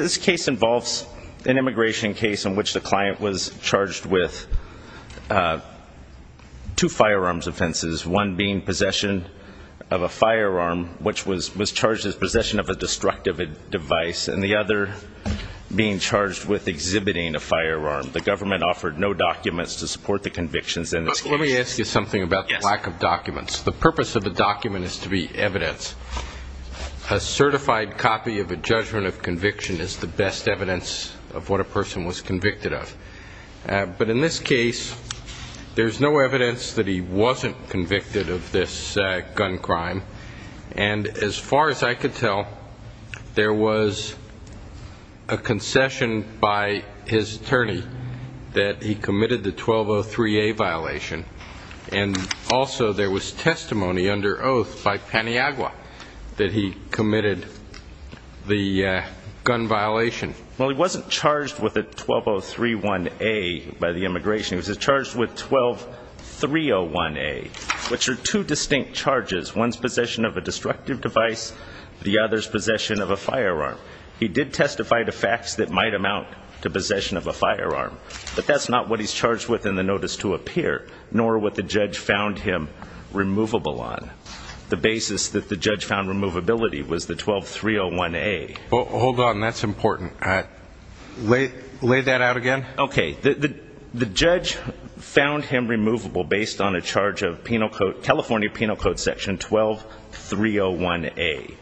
This case involves an immigration case in which the client was charged with two firearms offenses, one being possession of a firearm, which was charged as possession of a destructive device, and the other being charged with exhibiting a firearm. The government offered no documents to support the convictions in this case. Judge Goldberg But let me ask you something about the lack of documents. The purpose of the document is to be evidence. A certified copy of a judgment of conviction is the best evidence of what a person was convicted of. But in this case, there's no evidence that he wasn't convicted of this gun crime. And as far as I could tell, there was a concession by his attorney that he committed the 1203A violation. And also there was testimony under oath by Paniagua that he committed the gun violation. Judge Goldberg Well, he wasn't charged with a 12031A by the immigration. He was charged with 12301A, which are two distinct charges, one's possession of a destructive device, the other's possession of a firearm. He did testify to facts that might amount to possession of a firearm. But that's not what he's charged with in the notice to appear, nor what the judge found him removable on. The basis that the judge found removability was the 12301A. Hold on, that's important. Lay that out again. Okay. The judge found him removable based on a charge of California Penal Code Section 12301A,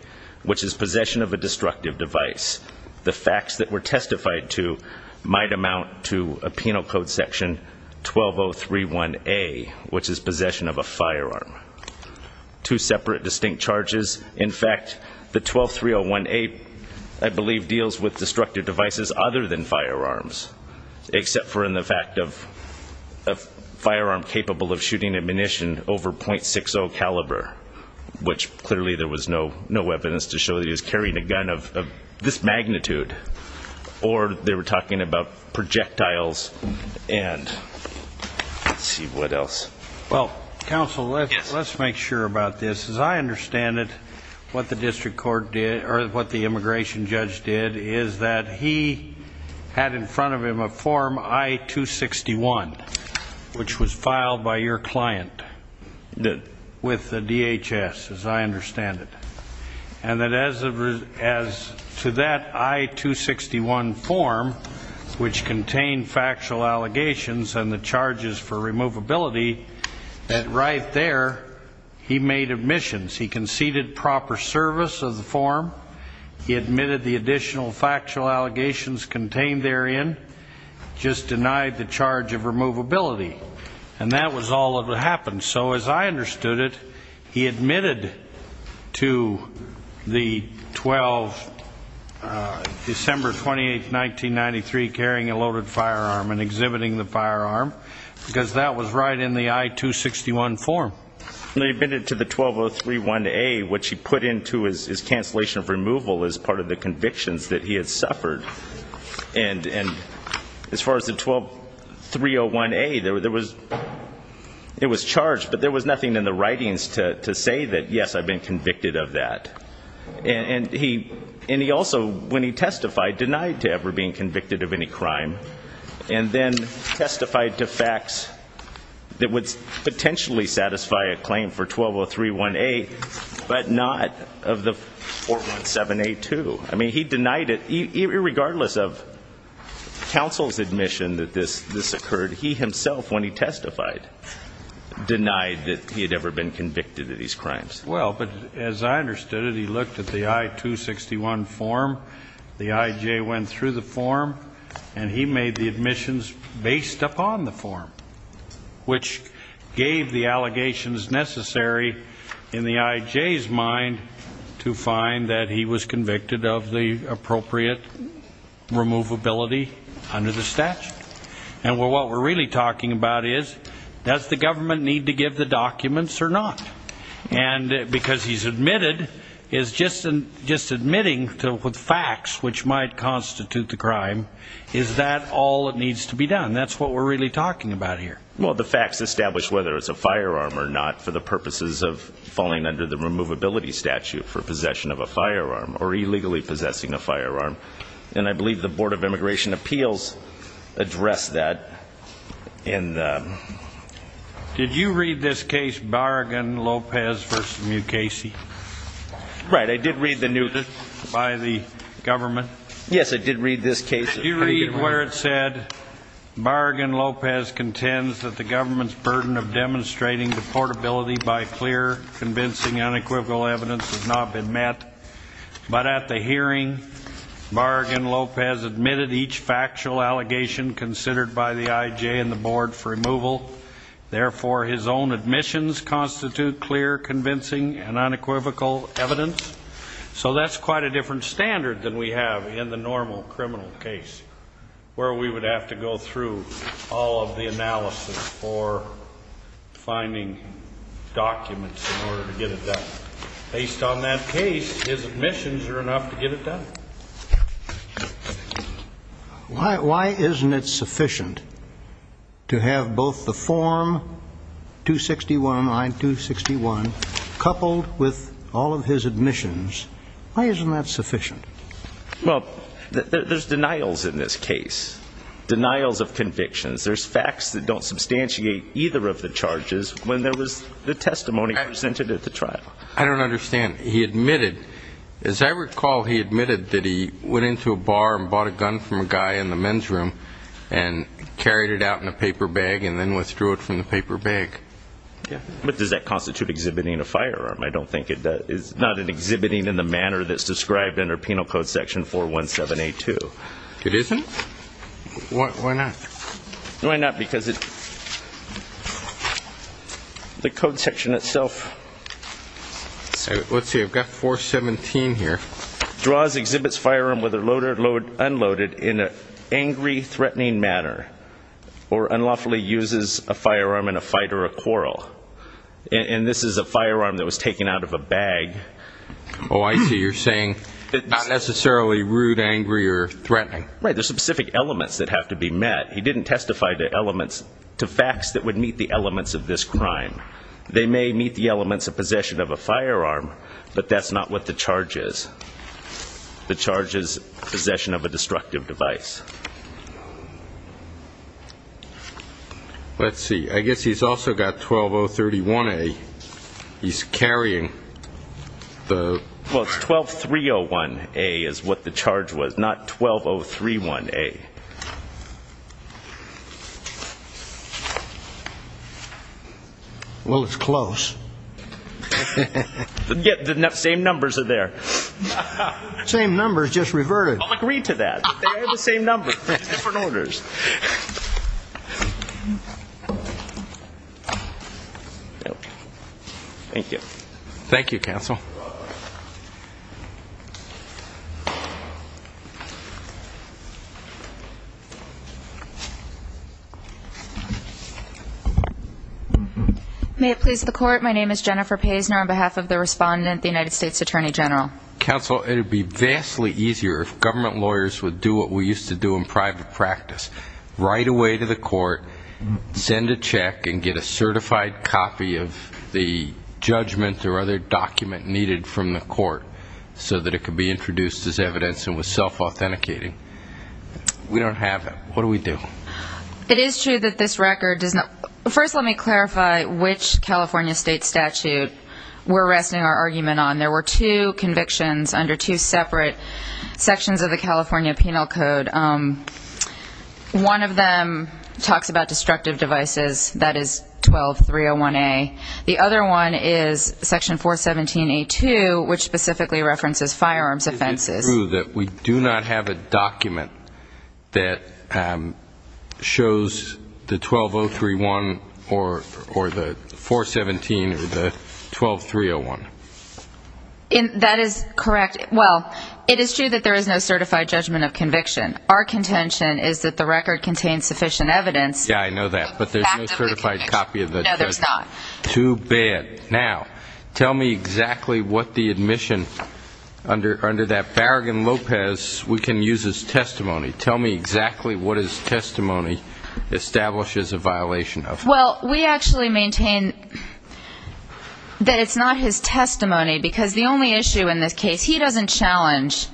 which is possession of a destructive device. The facts that were testified to might amount to a Penal Code Section 12031A, which is possession of a firearm. Two separate distinct charges. In fact, the 12301A, I believe, deals with destructive devices other than firearms, except for in the fact of a firearm capable of shooting ammunition over .60 caliber, which clearly there was no evidence to show that he was carrying a gun of this magnitude. Or they were talking about projectiles. And let's see, what else? Well, counsel, let's make sure about this. As I understand it, what the district court did, or what the immigration judge did, is that he had in front of him a form I-261, which was filed by your client with the DHS, as I understand it. And that as to that I-261 form, which contained factual allegations and the charges for removability, that right there he made admissions. He conceded proper service of the form. He admitted the additional factual allegations contained therein. Just denied the charge of removability. And that was all that happened. So as I understood it, he admitted to the December 28th, 1993, carrying a loaded firearm and exhibiting the firearm, because that was right in the I-261 form. And he admitted to the 12031A, which he put into his cancellation of removal as part of the convictions that he had suffered. And as far as the 12301A, it was charged, but there was nothing in the writings to say that, yes, I've been convicted of that. And he also, when he testified, denied to ever being convicted of any crime. And then testified to facts that would potentially satisfy a claim for 12031A, but not of the 417A2. I mean, he denied it, irregardless of counsel's admission that this occurred. He himself, when he testified, denied that he had ever been convicted of these crimes. Well, but as I understood it, he looked at the I-261 form, the IJ went through the form, and he made the admissions based upon the form, which gave the allegations necessary in the IJ's mind to find that he was convicted of the appropriate removability under the statute. And what we're really talking about is, does the government need to give the documents or not? And because he's admitted, he's just admitting with facts which might constitute the crime. Is that all that needs to be done? That's what we're really talking about here. Well, the facts establish whether it's a firearm or not for the purposes of falling under the removability statute for possession of a firearm or illegally possessing a firearm. And I believe the Board of Immigration Appeals addressed that in the... Did you read this case Barragan-Lopez v. Mukasey? Right. I did read the new... By the government? Yes, I did read this case. You read where it said, Barragan-Lopez contends that the government's burden of demonstrating the portability by clear, convincing, unequivocal evidence has not been met. But at the hearing, Barragan-Lopez admitted each factual allegation considered by the IJ and the Board for removal. Therefore, his own admissions constitute clear, convincing, and unequivocal evidence. So that's quite a different standard than we have in the normal criminal case, where we would have to go through all of the analysis for finding documents in order to get it done. Based on that case, his admissions are enough to get it done. Why isn't it sufficient to have both the Form 261, I-261, coupled with all of his admissions? Why isn't that sufficient? Well, there's denials in this case. Denials of convictions. There's facts that don't substantiate either of the charges when there was the testimony presented at the trial. I don't understand. He admitted... As I recall, he admitted that he went into a bar and bought a gun from a guy in the men's room and carried it out in a paper bag and then withdrew it from the paper bag. But does that constitute exhibiting a firearm? I don't think it does. It's not an exhibiting in the manner that's described in our Penal Code Section 417A2. It isn't? Why not? Why not? Because the code section itself... Let's see. I've got 417 here. Draws, exhibits firearm whether loaded or unloaded in an angry, threatening manner or unlawfully uses a firearm in a fight or a quarrel. And this is a firearm that was taken out of a bag. Oh, I see. You're saying not necessarily rude, angry or threatening. Right. There's specific elements that have to be met. He didn't testify to elements... to facts that would meet the elements of this crime. They may meet the elements of possession of a firearm, but that's not what the charge is. The charge is possession of a destructive device. Let's see. I guess he's also got 12031A. He's carrying the... Well, it's 12301A is what the charge was, not 12031A. Well, it's close. Yet the same numbers are there. Same numbers, just reverted. I'll agree to that. They're the same number, just different orders. Thank you. Thank you, counsel. May it please the court. My name is Jennifer Paisner on behalf of the respondent, the United States Attorney General. Counsel, it would be vastly easier if government lawyers would do what we used to do in private practice. Right away to the court, send a check and get a certified copy of the judgment or other document needed from the court so that it could be introduced as evidence and was self-authenticating. We don't have that. What do we do? It is true that this record does not... First, let me clarify which California state statute we're resting our argument on. There were two convictions under two separate sections of the California Penal Code. One of them talks about destructive devices. That is 12301A. The other one is section 417A2, which specifically references firearms offenses. It is true that we do not have a document that shows the 12031 or the 417 or the 12301. That is correct. Well, it is true that there is no certified judgment of conviction. Our contention is that the record contains sufficient evidence. Yeah, I know that, but there's no certified copy of the judgment. No, there's not. Too bad. Okay, now tell me exactly what the admission under that Farragon Lopez we can use as testimony. Tell me exactly what his testimony establishes a violation of. Well, we actually maintain that it's not his testimony because the only issue in this case, he doesn't challenge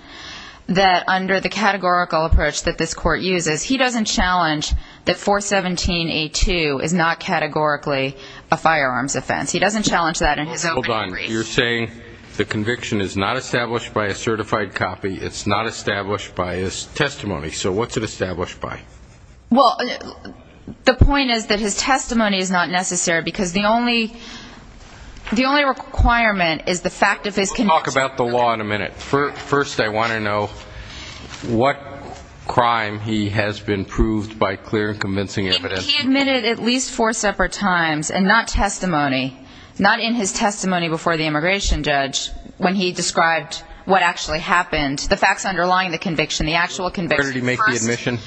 that under the categorical approach that this court uses, he doesn't challenge that 417A2 is not categorically a firearms offense. He doesn't challenge that in his opening brief. Hold on. You're saying the conviction is not established by a certified copy. It's not established by his testimony. So what's it established by? Well, the point is that his testimony is not necessary because the only requirement is the fact of his conviction. We'll talk about the law in a minute. First, I want to know what crime he has been proved by clear and convincing evidence. He admitted at least four separate times and not testimony, not in his testimony before the immigration judge when he described what actually happened, the facts underlying the conviction, the actual conviction. Where did he make the admission?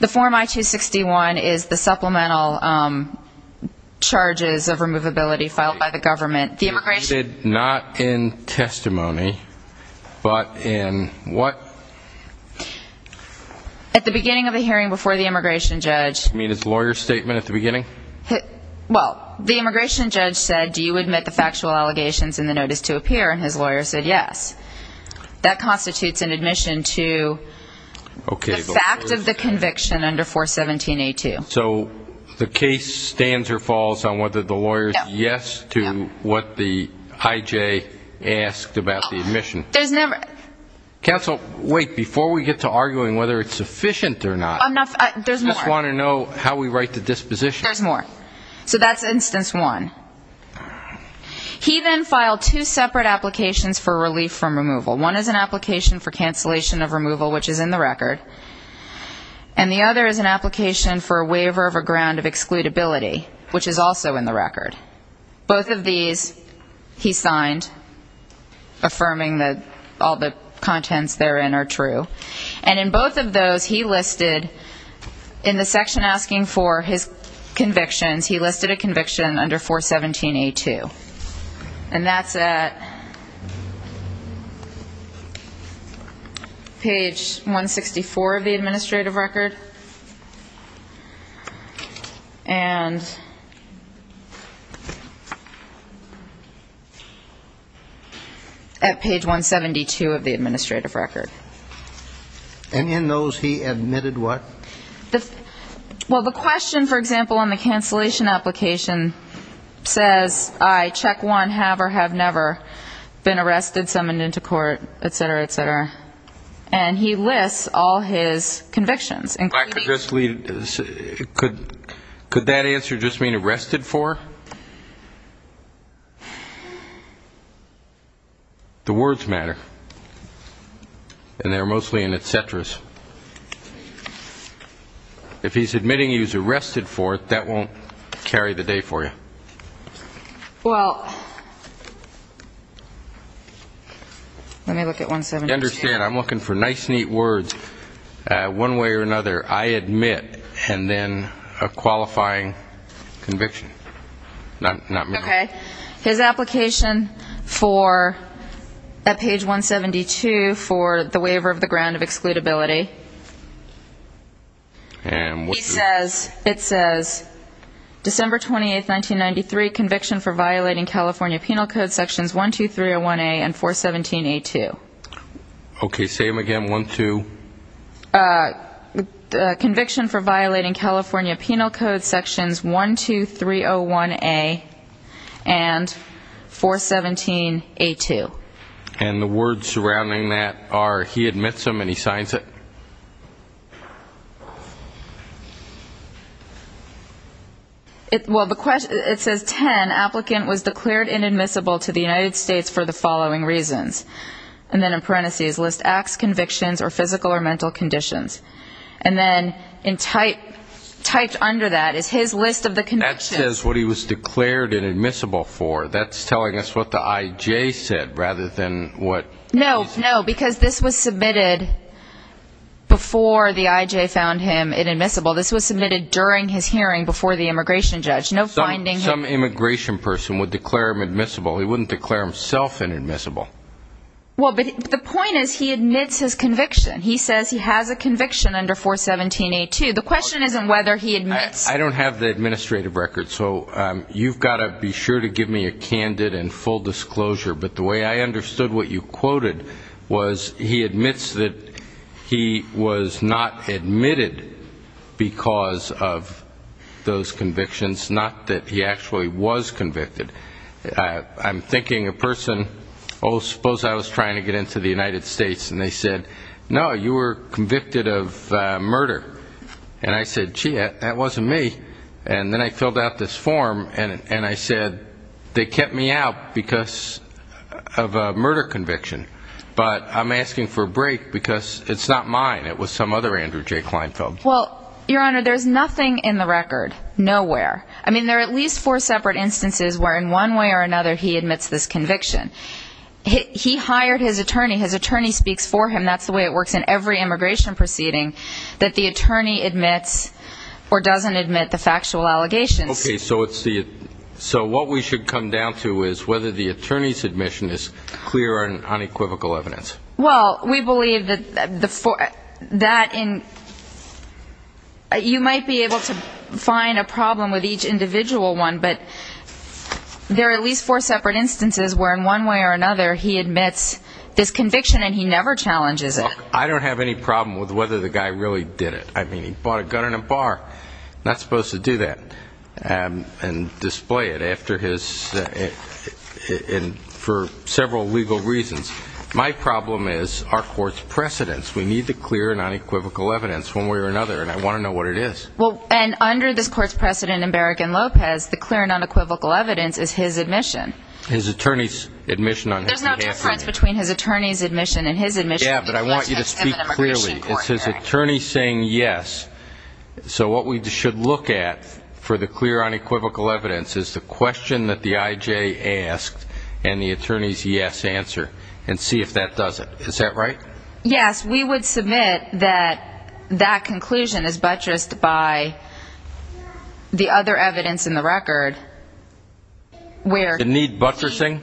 The Form I-261 is the supplemental charges of removability filed by the government. He admitted not in testimony but in what? At the beginning of the hearing before the immigration judge. You mean his lawyer's statement at the beginning? Well, the immigration judge said, do you admit the factual allegations in the notice to appear, and his lawyer said yes. That constitutes an admission to the fact of the conviction under 417A2. So the case stands or falls on whether the lawyer's yes to what the IJ asked about the admission. Counsel, wait. Before we get to arguing whether it's sufficient or not, I just want to know how we write the disposition. There's more. So that's instance one. He then filed two separate applications for relief from removal. One is an application for cancellation of removal, which is in the record, and the other is an application for a waiver of a ground of excludability, which is also in the record. Both of these he signed, affirming that all the contents therein are true. And in both of those, he listed in the section asking for his convictions, he listed a conviction under 417A2. And that's at page 164 of the administrative record. And at page 172 of the administrative record. And in those, he admitted what? Well, the question, for example, on the cancellation application says, I, check one, have or have never been arrested, summoned into court, et cetera, et cetera. And he lists all his convictions. Could that answer just mean arrested for? The words matter. And they're mostly in et ceteras. If he's admitting he was arrested for it, that won't carry the day for you. Well, let me look at 172. I understand. I'm looking for nice, neat words. One way or another, I admit, and then a qualifying conviction. Okay. His application for, at page 172, for the waiver of the ground of excludability. And what does it say? It says, December 28, 1993, conviction for violating California Penal Code Sections 12301A and 417A2. Okay. Say them again. One, two. Conviction for violating California Penal Code Sections 12301A and 417A2. And the words surrounding that are he admits them and he signs it? Well, it says 10, applicant was declared inadmissible to the United States for the following reasons. And then in parentheses, list acts, convictions, or physical or mental conditions. And then typed under that is his list of the convictions. That says what he was declared inadmissible for. That's telling us what the I.J. said rather than what he's. No, no, because this was submitted before the I.J. found him inadmissible. This was submitted during his hearing before the immigration judge. No finding him. Some immigration person would declare him admissible. He wouldn't declare himself inadmissible. Well, but the point is he admits his conviction. He says he has a conviction under 417A2. The question isn't whether he admits. I don't have the administrative record. So you've got to be sure to give me a candid and full disclosure. But the way I understood what you quoted was he admits that he was not admitted because of those convictions, not that he actually was convicted. I'm thinking a person, oh, suppose I was trying to get into the United States, and they said, no, you were convicted of murder. And I said, gee, that wasn't me. And then I filled out this form, and I said, they kept me out because of a murder conviction. But I'm asking for a break because it's not mine. It was some other Andrew J. Kleinfeld. Well, Your Honor, there's nothing in the record, nowhere. I mean, there are at least four separate instances where in one way or another he admits this conviction. He hired his attorney. His attorney speaks for him. And that's the way it works in every immigration proceeding, that the attorney admits or doesn't admit the factual allegations. Okay. So what we should come down to is whether the attorney's admission is clear and unequivocal evidence. Well, we believe that you might be able to find a problem with each individual one, but there are at least four separate instances where in one way or another he admits this conviction, and he never challenges it. Look, I don't have any problem with whether the guy really did it. I mean, he bought a gun in a bar. I'm not supposed to do that and display it after his – for several legal reasons. My problem is our court's precedence. We need the clear and unequivocal evidence one way or another, and I want to know what it is. Well, and under this court's precedent in Barrigan-Lopez, the clear and unequivocal evidence is his admission. His attorney's admission on his behalf. There's no difference between his attorney's admission and his admission. Yeah, but I want you to speak clearly. It's his attorney saying yes. So what we should look at for the clear unequivocal evidence is the question that the I.J. asked and the attorney's yes answer and see if that does it. Is that right? Yes. We would submit that that conclusion is buttressed by the other evidence in the record. Does it need buttressing?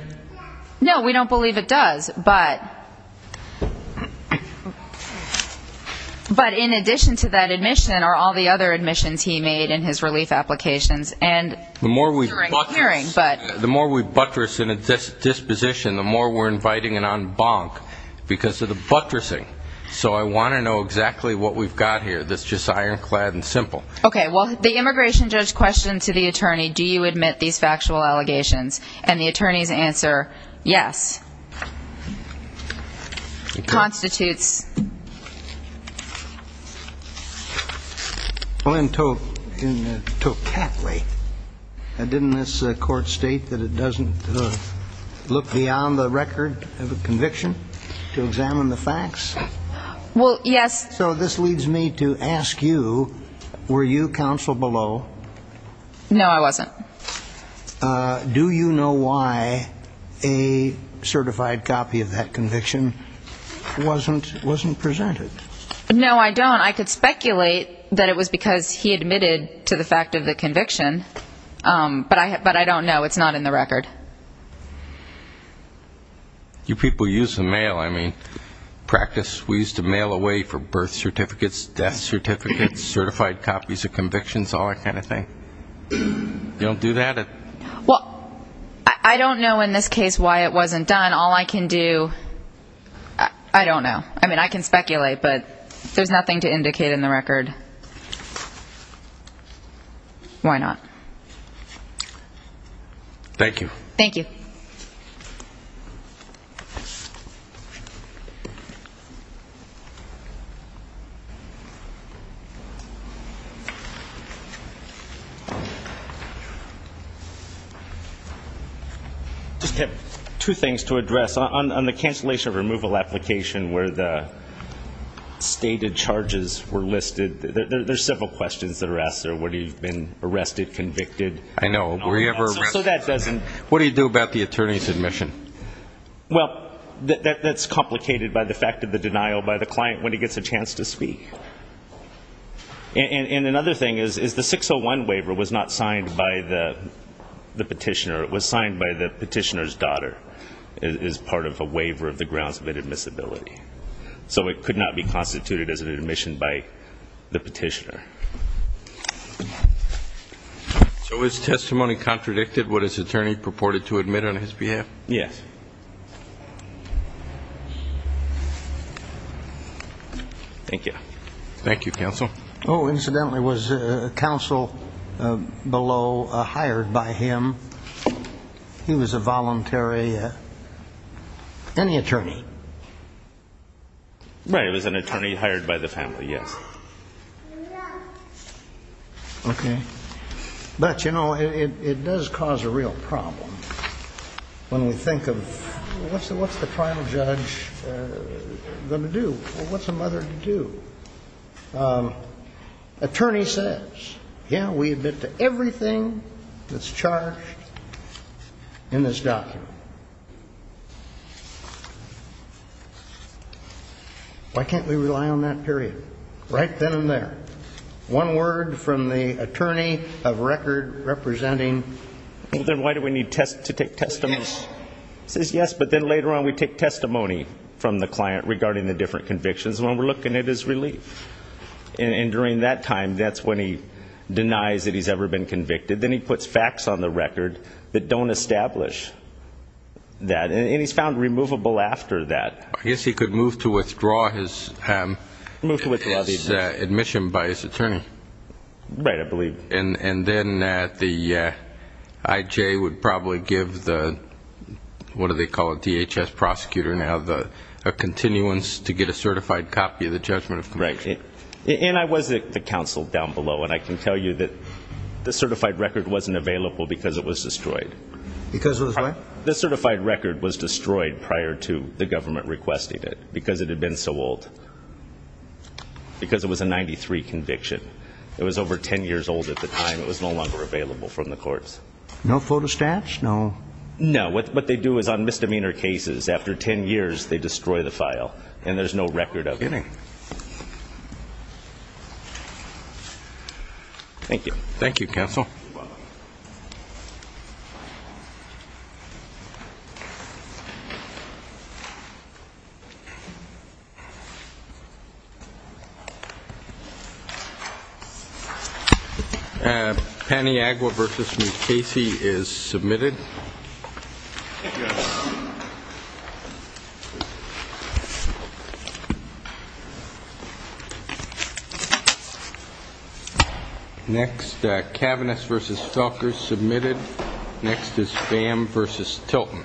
No, we don't believe it does, but in addition to that admission are all the other admissions he made in his relief applications. The more we buttress in a disposition, the more we're inviting an en banc because of the buttressing. So I want to know exactly what we've got here that's just ironclad and simple. Okay. Well, the immigration judge questioned to the attorney, do you admit these factual allegations? And the attorney's answer, yes, constitutes. Well, in Tocatli, didn't this court state that it doesn't look beyond the record of a conviction to examine the facts? Well, yes. So this leads me to ask you, were you counsel below? No, I wasn't. Do you know why a certified copy of that conviction wasn't presented? No, I don't. I could speculate that it was because he admitted to the fact of the conviction, but I don't know. It's not in the record. You people use the mail. I mean, practice, we used to mail away for birth certificates, death certificates, certified copies of convictions, all that kind of thing. You don't do that? Well, I don't know in this case why it wasn't done. All I can do, I don't know. I mean, I can speculate, but there's nothing to indicate in the record. Why not? Thank you. I just have two things to address. On the cancellation of removal application where the stated charges were listed, there's several questions that are asked there. Would he have been arrested, convicted? I know. Were he ever arrested? I don't know. What do you do about the attorney's admission? Well, that's complicated by the fact of the denial by the client when he gets a chance to speak. And another thing is the 601 waiver was not signed by the petitioner. It was signed by the petitioner's daughter as part of a waiver of the grounds of admissibility. So it could not be constituted as an admission by the petitioner. So is testimony contradicted what his attorney purported to admit on his behalf? Yes. Thank you. Thank you, counsel. Oh, incidentally, was counsel below hired by him? He was a voluntary, any attorney. Right. It was an attorney hired by the family, yes. No. Okay. But, you know, it does cause a real problem when we think of what's the trial judge going to do? What's a mother to do? Attorney says, yeah, we admit to everything that's charged in this document. Why can't we rely on that period? Right then and there. One word from the attorney of record representing. Well, then why do we need to take testimony? Yes. He says yes, but then later on we take testimony from the client regarding the different convictions. And when we're looking at his relief. And during that time, that's when he denies that he's ever been convicted. Then he puts facts on the record that don't establish that. And he's found removable after that. I guess he could move to withdraw his admission by his attorney. Right, I believe. And then the IJ would probably give the, what do they call it, DHS prosecutor now, a continuance to get a certified copy of the judgment of conviction. Right. And I was at the council down below. And I can tell you that the certified record wasn't available because it was destroyed. Because it was what? The certified record was destroyed prior to the government requesting it because it had been so old. Because it was a 93 conviction. It was over 10 years old at the time. It was no longer available from the courts. No photo stats? No. No. What they do is on misdemeanor cases, after 10 years, they destroy the file. And there's no record of it. Thank you. Thank you, counsel. Thank you. Paniagua versus Mukasey is submitted. Thank you. Next, Kavanagh versus Felker submitted. Next is Pham versus Tilton.